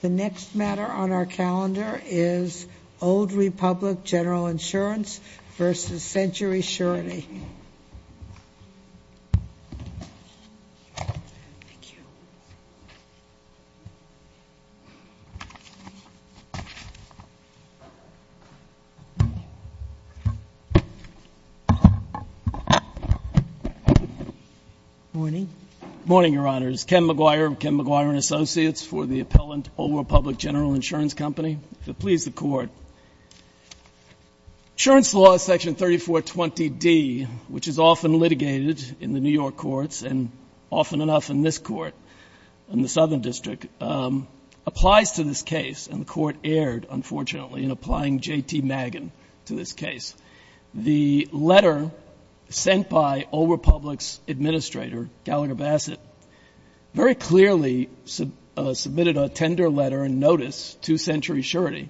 The next matter on our calendar is Old Republic General Insurance vs. Century Surety. Morning. Morning, Your Honors. Ken McGuire of Ken McGuire & Associates for the appellant Old Republic General Insurance Company. If it please the Court, insurance law section 3420D, which is often litigated in the New York courts and often enough in this court in the Southern District, applies to this case. And the Court erred, unfortunately, in applying J.T. Magan to this case. The letter sent by Old Republic's administrator, Gallagher Bassett, very clearly submitted a tender letter and notice to Century Surety,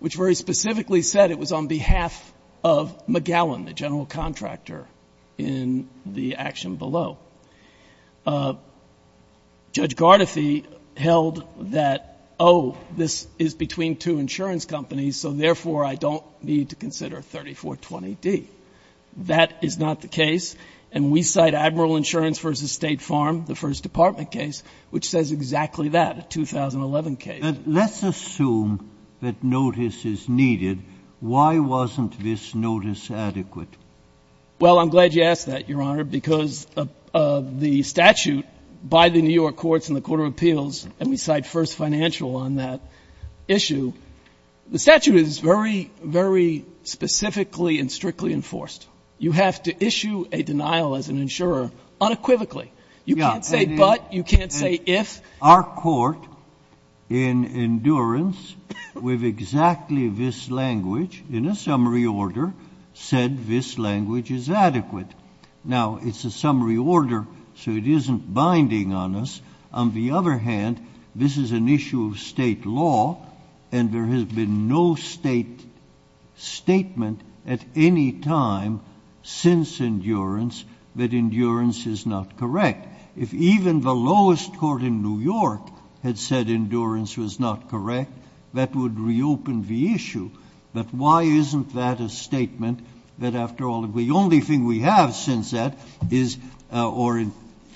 which very specifically said it was on behalf of McGowan, the general contractor, in the action below. Judge Gardefee held that, oh, this is between two insurance companies, so therefore I don't need to consider 3420D. That is not the case, and we cite Admiral Insurance vs. State Farm, the First Department case, which says exactly that, a 2011 case. Let's assume that notice is needed. Why wasn't this notice adequate? Well, I'm glad you asked that, Your Honor, because of the statute by the New York courts and the Court of Appeals, and we cite First Financial on that issue. The statute is very, very specifically and strictly enforced. You have to issue a denial as an insurer unequivocally. You can't say but. You can't say if. Our court in endurance with exactly this language in a summary order said this language is adequate. Now, it's a summary order, so it isn't binding on us. On the other hand, this is an issue of state law, and there has been no state statement at any time since endurance that endurance is not correct. If even the lowest court in New York had said endurance was not correct, that would reopen the issue. But why isn't that a statement that, after all, the only thing we have since that is or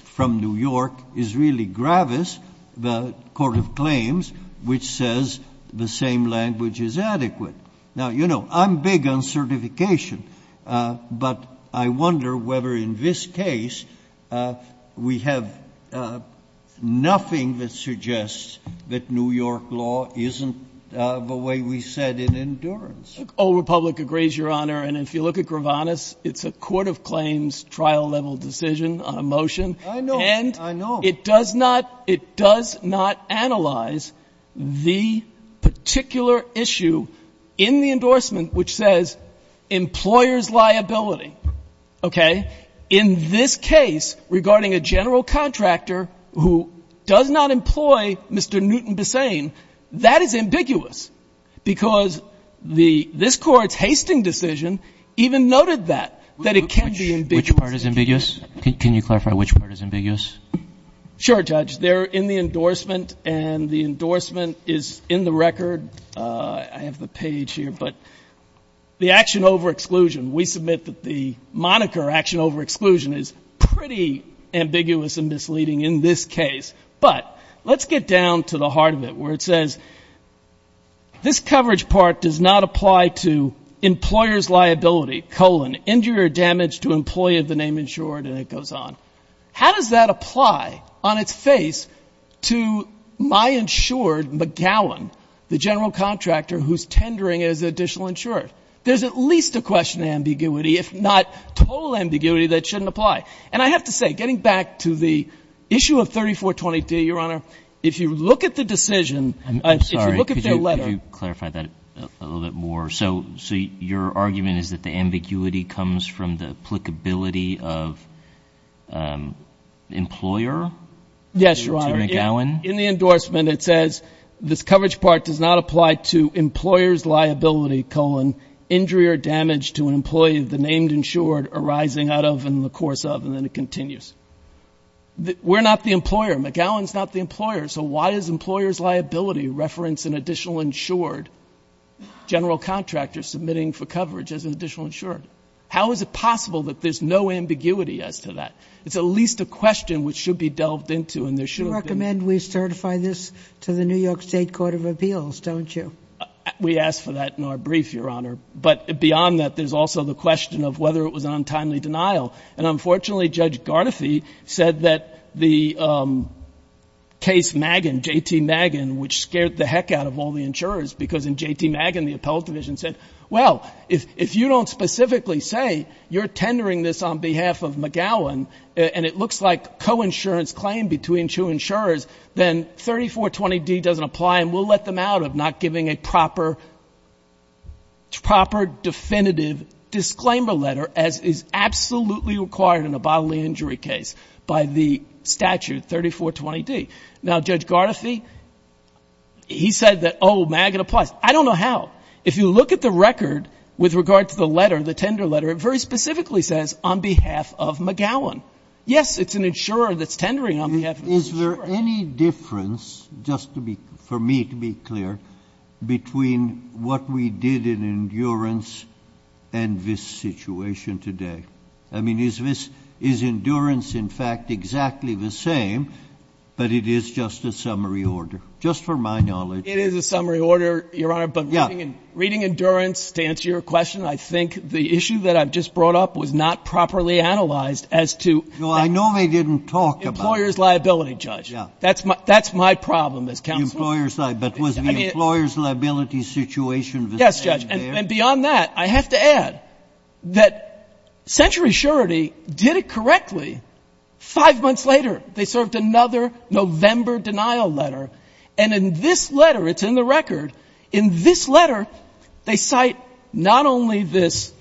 from New York is really Gravis, the Court of Claims, which says the same language is adequate. Now, you know, I'm big on certification, but I wonder whether in this case we have nothing that suggests that New York law isn't the way we said in endurance. Old Republic agrees, Your Honor, and if you look at Gravis, it's a Court of Claims trial-level decision on a motion. I know. And it does not analyze the particular issue in the endorsement which says employer's liability. Okay? In this case, regarding a general contractor who does not employ Mr. Newton Bessain, that is ambiguous because this Court's Hastings decision even noted that, that it can be ambiguous. Which part is ambiguous? Can you clarify which part is ambiguous? Sure, Judge. They're in the endorsement, and the endorsement is in the record. I have the page here, but the action over exclusion, we submit that the moniker action over exclusion is pretty ambiguous and misleading in this case. But let's get down to the heart of it, where it says, this coverage part does not apply to employer's liability, colon, injury or damage to employee of the name insured, and it goes on. How does that apply on its face to my insured McGowan, the general contractor who's tendering as additional insured? There's at least a question of ambiguity, if not total ambiguity, that shouldn't apply. And I have to say, getting back to the issue of 3420D, Your Honor, if you look at the decision, if you look at the letter. Could you clarify that a little bit more? So your argument is that the ambiguity comes from the applicability of employer to McGowan? Yes, Your Honor. In the endorsement, it says, this coverage part does not apply to employer's liability, colon, injury or damage to an employee of the name insured arising out of and in the course of, and then it continues. We're not the employer. McGowan's not the employer. So why does employer's liability reference an additional insured general contractor submitting for coverage as an additional insured? How is it possible that there's no ambiguity as to that? It's at least a question which should be delved into, and there should have been. You recommend we certify this to the New York State Court of Appeals, don't you? We asked for that in our brief, Your Honor. But beyond that, there's also the question of whether it was an untimely denial. And, unfortunately, Judge Garnethy said that the case Magan, J.T. Magan, which scared the heck out of all the insurers because in J.T. Magan, the appellate division said, well, if you don't specifically say you're tendering this on behalf of McGowan and it looks like coinsurance claim between two insurers, then 3420D doesn't apply and we'll let them out of not giving a proper definitive disclaimer letter, as is absolutely required in a bodily injury case by the statute 3420D. Now, Judge Garnethy, he said that, oh, Magan applies. I don't know how. If you look at the record with regard to the letter, the tender letter, it very specifically says on behalf of McGowan. Yes, it's an insurer that's tendering on behalf of an insurer. Is there any difference, just for me to be clear, between what we did in endurance and this situation today? I mean, is endurance, in fact, exactly the same? But it is just a summary order, just for my knowledge. It is a summary order, Your Honor, but reading endurance, to answer your question, I think the issue that I've just brought up was not properly analyzed as to employers' liability. That's my problem as counsel. But was the employers' liability situation there? Yes, Judge, and beyond that, I have to add that Century Surety did it correctly. Five months later, they served another November denial letter, and in this letter, it's in the record, in this letter they cite not only this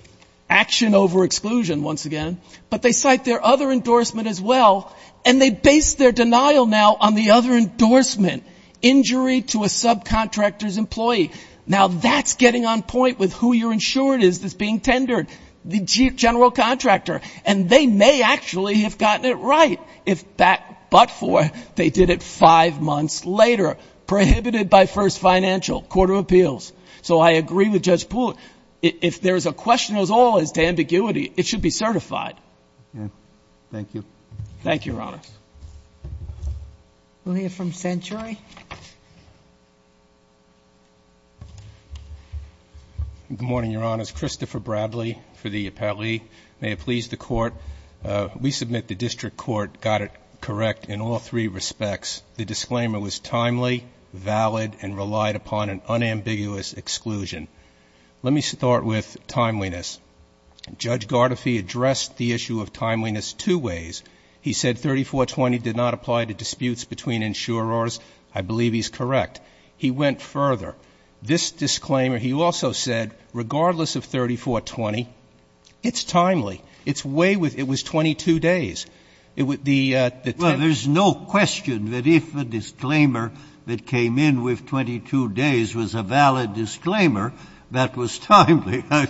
action over exclusion once again, but they cite their other endorsement as well, and they base their denial now on the other endorsement, injury to a subcontractor's employee. Now, that's getting on point with who your insurer is that's being tendered, the general contractor. And they may actually have gotten it right, if that but for they did it five months later, prohibited by first financial, court of appeals. So I agree with Judge Poole. If there is a question as all as to ambiguity, it should be certified. Thank you. Thank you, Your Honor. We'll hear from Century. Good morning, Your Honors. Christopher Bradley for the appellee. May it please the Court. We submit the district court got it correct in all three respects. The disclaimer was timely, valid, and relied upon an unambiguous exclusion. Let me start with timeliness. Judge Gardefee addressed the issue of timeliness two ways. He said 3420 did not apply to disputes between insurers. I believe he's correct. He went further. This disclaimer, he also said, regardless of 3420, it's timely. It's way with, it was 22 days. Well, there's no question that if a disclaimer that came in with 22 days was a valid disclaimer, that was timely. I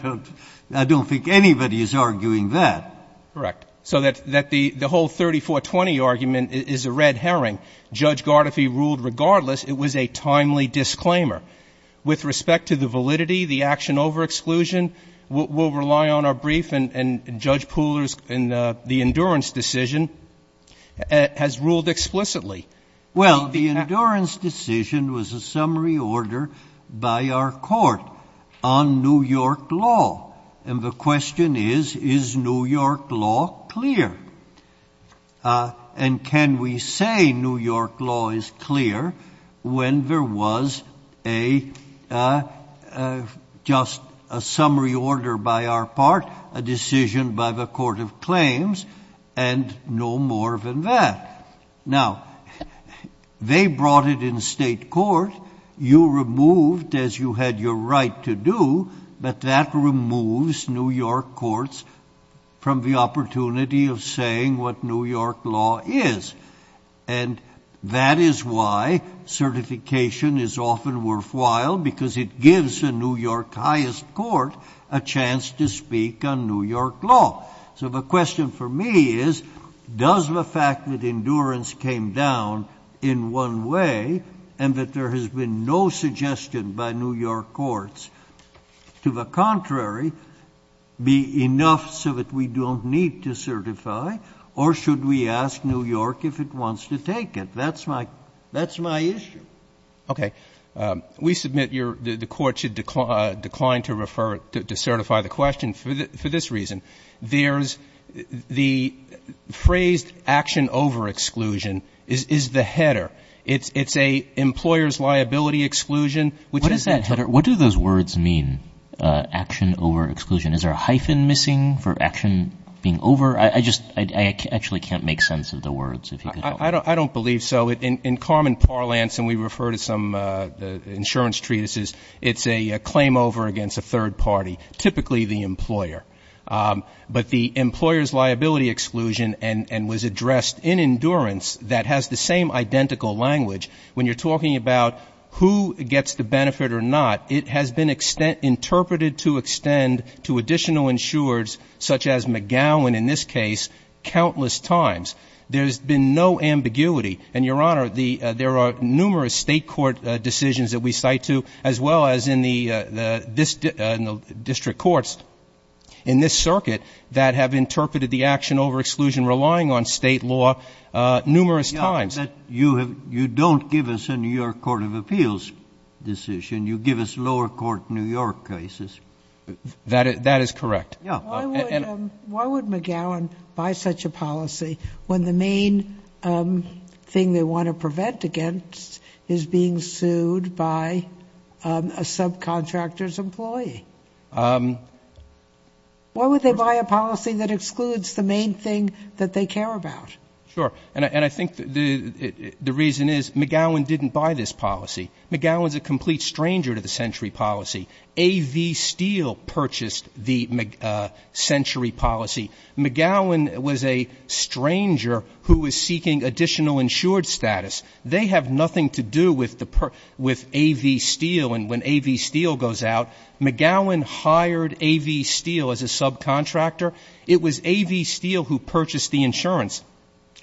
don't think anybody is arguing that. Correct. So that the whole 3420 argument is a red herring. Judge Gardefee ruled regardless it was a timely disclaimer. With respect to the validity, the action over exclusion, we'll rely on our brief, and Judge Pooler's, and the endurance decision has ruled explicitly. Well, the endurance decision was a summary order by our court on New York law. And the question is, is New York law clear? And can we say New York law is clear when there was a just a summary order by our part, a decision by the court of claims, and no more than that. Now, they brought it in state court. You removed, as you had your right to do, but that removes New York courts from the opportunity of saying what New York law is. And that is why certification is often worthwhile, because it gives a New York highest court a chance to speak on New York law. So the question for me is, does the fact that endurance came down in one way, and that there has been no suggestion by New York courts, to the contrary, be enough so that we don't need to certify, or should we ask New York if it wants to take it? Okay. We submit the court should decline to refer, to certify the question for this reason. There's the phrased action over exclusion is the header. It's an employer's liability exclusion. What does that header, what do those words mean, action over exclusion? Is there a hyphen missing for action being over? I just, I actually can't make sense of the words. I don't believe so. In common parlance, and we refer to some insurance treatises, it's a claim over against a third party, typically the employer. But the employer's liability exclusion, and was addressed in endurance, that has the same identical language. When you're talking about who gets the benefit or not, it has been interpreted to extend to additional insurers, such as McGowan in this case, countless times. There's been no ambiguity. And, Your Honor, there are numerous state court decisions that we cite to, as well as in the district courts in this circuit, that have interpreted the action over exclusion relying on state law numerous times. Yeah, but you don't give us a New York Court of Appeals decision. You give us lower court New York cases. That is correct. Why would McGowan buy such a policy when the main thing they want to prevent against is being sued by a subcontractor's employee? Why would they buy a policy that excludes the main thing that they care about? Sure. And I think the reason is McGowan didn't buy this policy. McGowan's a complete stranger to the century policy. A.V. Steele purchased the century policy. McGowan was a stranger who was seeking additional insured status. They have nothing to do with A.V. Steele. And when A.V. Steele goes out, McGowan hired A.V. Steele as a subcontractor. It was A.V. Steele who purchased the insurance.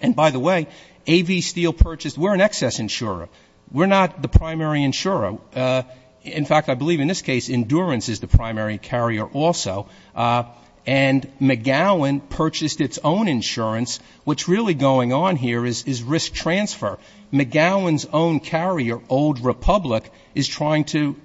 And, by the way, A.V. Steele purchased we're an excess insurer. We're not the primary insurer. In fact, I believe in this case endurance is the primary carrier also. And McGowan purchased its own insurance. What's really going on here is risk transfer. McGowan's own carrier, Old Republic, is trying to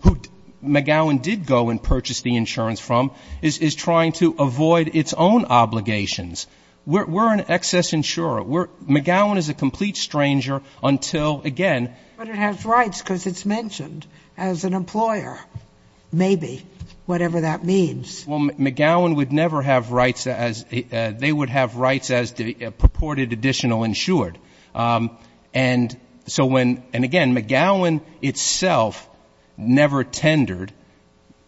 who McGowan did go and purchase the insurance from, is trying to avoid its own obligations. We're an excess insurer. McGowan is a complete stranger until, again. But it has rights because it's mentioned as an employer, maybe, whatever that means. Well, McGowan would never have rights as they would have rights as purported additional insured. And so when, and again, McGowan itself never tendered.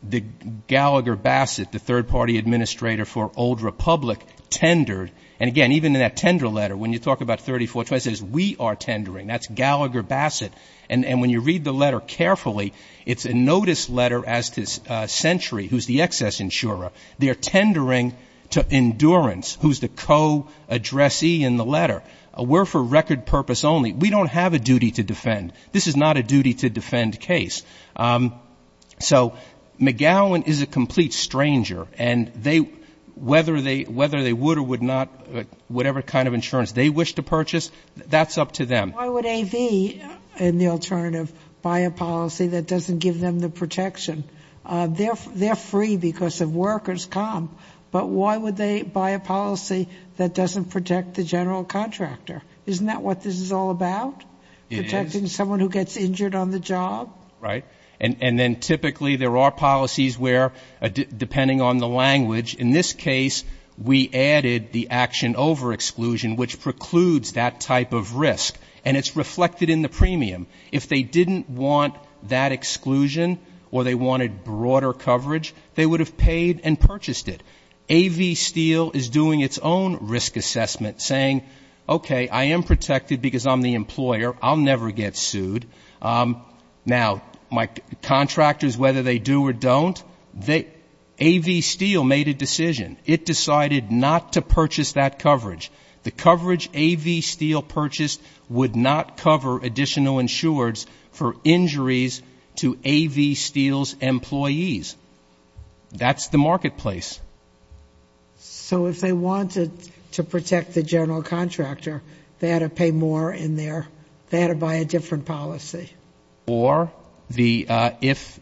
The Gallagher Bassett, the third-party administrator for Old Republic, tendered. And, again, even in that tender letter, when you talk about 34, it says we are tendering. That's Gallagher Bassett. And when you read the letter carefully, it's a notice letter as to Century, who's the excess insurer. They are tendering to Endurance, who's the co-addressee in the letter. We're for record purpose only. We don't have a duty to defend. This is not a duty to defend case. So McGowan is a complete stranger. And they, whether they would or would not, whatever kind of insurance they wish to purchase, that's up to them. Why would AV and the alternative buy a policy that doesn't give them the protection? They're free because of workers' comp. But why would they buy a policy that doesn't protect the general contractor? Isn't that what this is all about? It is. Protecting someone who gets injured on the job? Right. And then typically there are policies where, depending on the language, in this case, we added the action over exclusion, which precludes that type of risk. And it's reflected in the premium. If they didn't want that exclusion or they wanted broader coverage, they would have paid and purchased it. AV Steel is doing its own risk assessment, saying, okay, I am protected because I'm the employer. I'll never get sued. Now, contractors, whether they do or don't, AV Steel made a decision. It decided not to purchase that coverage. The coverage AV Steel purchased would not cover additional insureds for injuries to AV Steel's employees. That's the marketplace. So if they wanted to protect the general contractor, they had to pay more in their ‑‑ they had to buy a different policy. Or if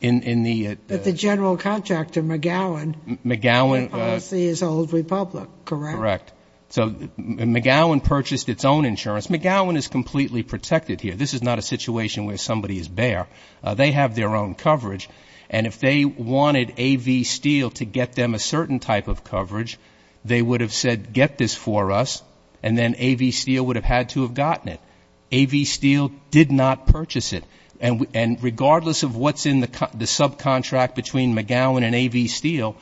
in the ‑‑ But the general contractor, McGowan, the policy is Old Republic, correct? Correct. So McGowan purchased its own insurance. McGowan is completely protected here. This is not a situation where somebody is bare. They have their own coverage. And if they wanted AV Steel to get them a certain type of coverage, they would have said get this for us, and then AV Steel would have had to have gotten it. AV Steel did not purchase it. And regardless of what's in the subcontract between McGowan and AV Steel,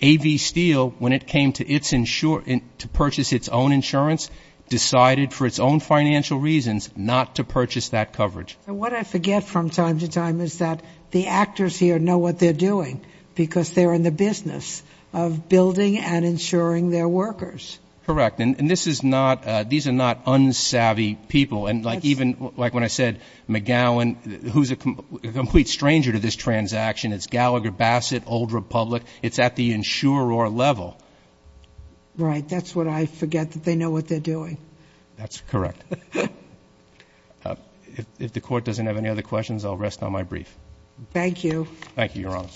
AV Steel, when it came to purchase its own insurance, decided for its own financial reasons not to purchase that coverage. What I forget from time to time is that the actors here know what they're doing because they're in the business of building and insuring their workers. Correct. And this is not ‑‑ these are not unsavvy people. And like even when I said McGowan, who's a complete stranger to this transaction, it's Gallagher, Bassett, Old Republic. It's at the insurer level. Right. That's what I forget, that they know what they're doing. That's correct. If the Court doesn't have any other questions, I'll rest on my brief. Thank you. Thank you, Your Honor.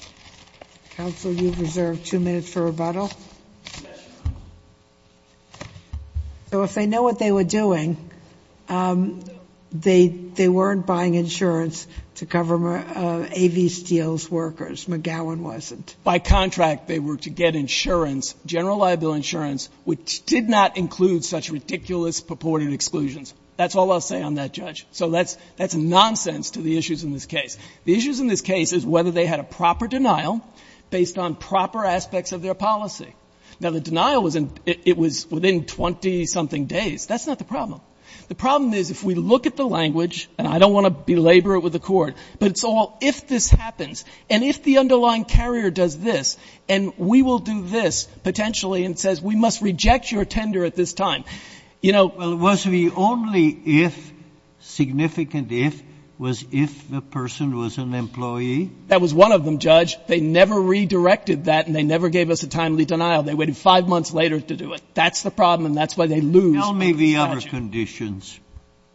Counsel, you've reserved two minutes for rebuttal. Yes, Your Honor. So if they know what they were doing, they weren't buying insurance to cover AV Steel's workers. McGowan wasn't. By contract, they were to get insurance, general liable insurance, which did not include such ridiculous purported exclusions. That's all I'll say on that, Judge. So that's nonsense to the issues in this case. The issues in this case is whether they had a proper denial based on proper aspects of their policy. Now, the denial was within 20-something days. That's not the problem. The problem is if we look at the language, and I don't want to belabor it with the Court, but it's all if this happens, and if the underlying carrier does this, and we will do this, potentially, and says we must reject your tender at this time. Well, was the only if, significant if, was if the person was an employee? That was one of them, Judge. They never redirected that, and they never gave us a timely denial. They waited five months later to do it. That's the problem, and that's why they lose. Tell me the other conditions.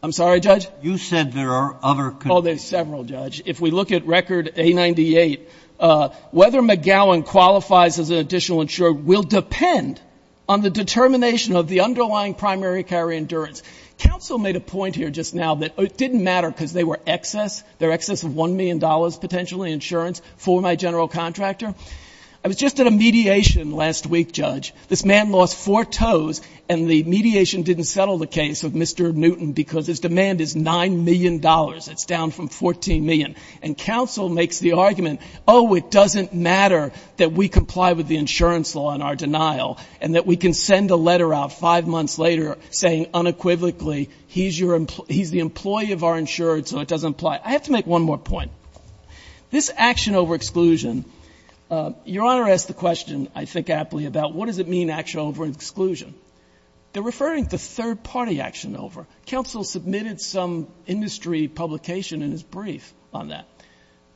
I'm sorry, Judge? You said there are other conditions. Oh, there are several, Judge. If we look at Record A-98, whether McGowan qualifies as an additional insurer will depend on the determination of the underlying primary carrier endurance. Counsel made a point here just now that it didn't matter because they were excess, they're excess of $1 million, potentially, insurance for my general contractor. I was just at a mediation last week, Judge. This man lost four toes, and the mediation didn't settle the case of Mr. Newton because his demand is $9 million. It's down from $14 million. And counsel makes the argument, oh, it doesn't matter that we comply with the insurance law in our denial and that we can send a letter out five months later saying unequivocally he's your, he's the employee of our insured, so it doesn't apply. I have to make one more point. This action over exclusion, Your Honor asked the question, I think aptly, about what does it mean, action over exclusion? They're referring to third-party action over. Counsel submitted some industry publication in his brief on that.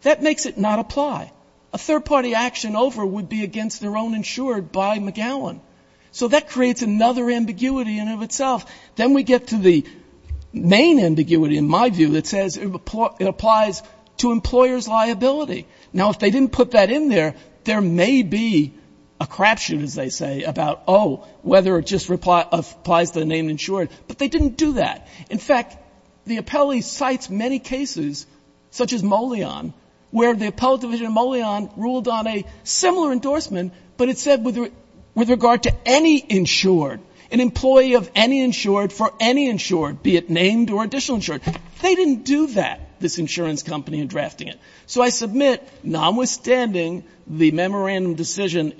That makes it not apply. A third-party action over would be against their own insured by McGowan. So that creates another ambiguity in and of itself. Then we get to the main ambiguity, in my view, that says it applies to employer's liability. Now, if they didn't put that in there, there may be a crapshoot, as they say, about, oh, whether it just applies to the named insured. But they didn't do that. In fact, the appellee cites many cases, such as Molyon, where the appellate division of Molyon ruled on a similar endorsement, but it said with regard to any insured, an employee of any insured for any insured, be it named or additional insured. They didn't do that, this insurance company in drafting it. So I submit, notwithstanding the memorandum decision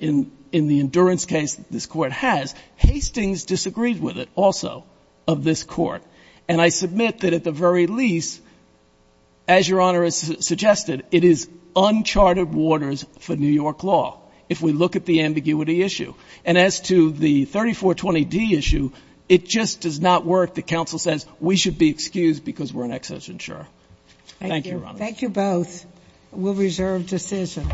in the endurance case this court has, Hastings disagreed with it also of this court. And I submit that at the very least, as Your Honor has suggested, it is uncharted waters for New York law, if we look at the ambiguity issue. And as to the 3420D issue, it just does not work. The counsel says we should be excused because we're an excess insurer. Thank you, Your Honor. Thank you both. We'll reserve decision.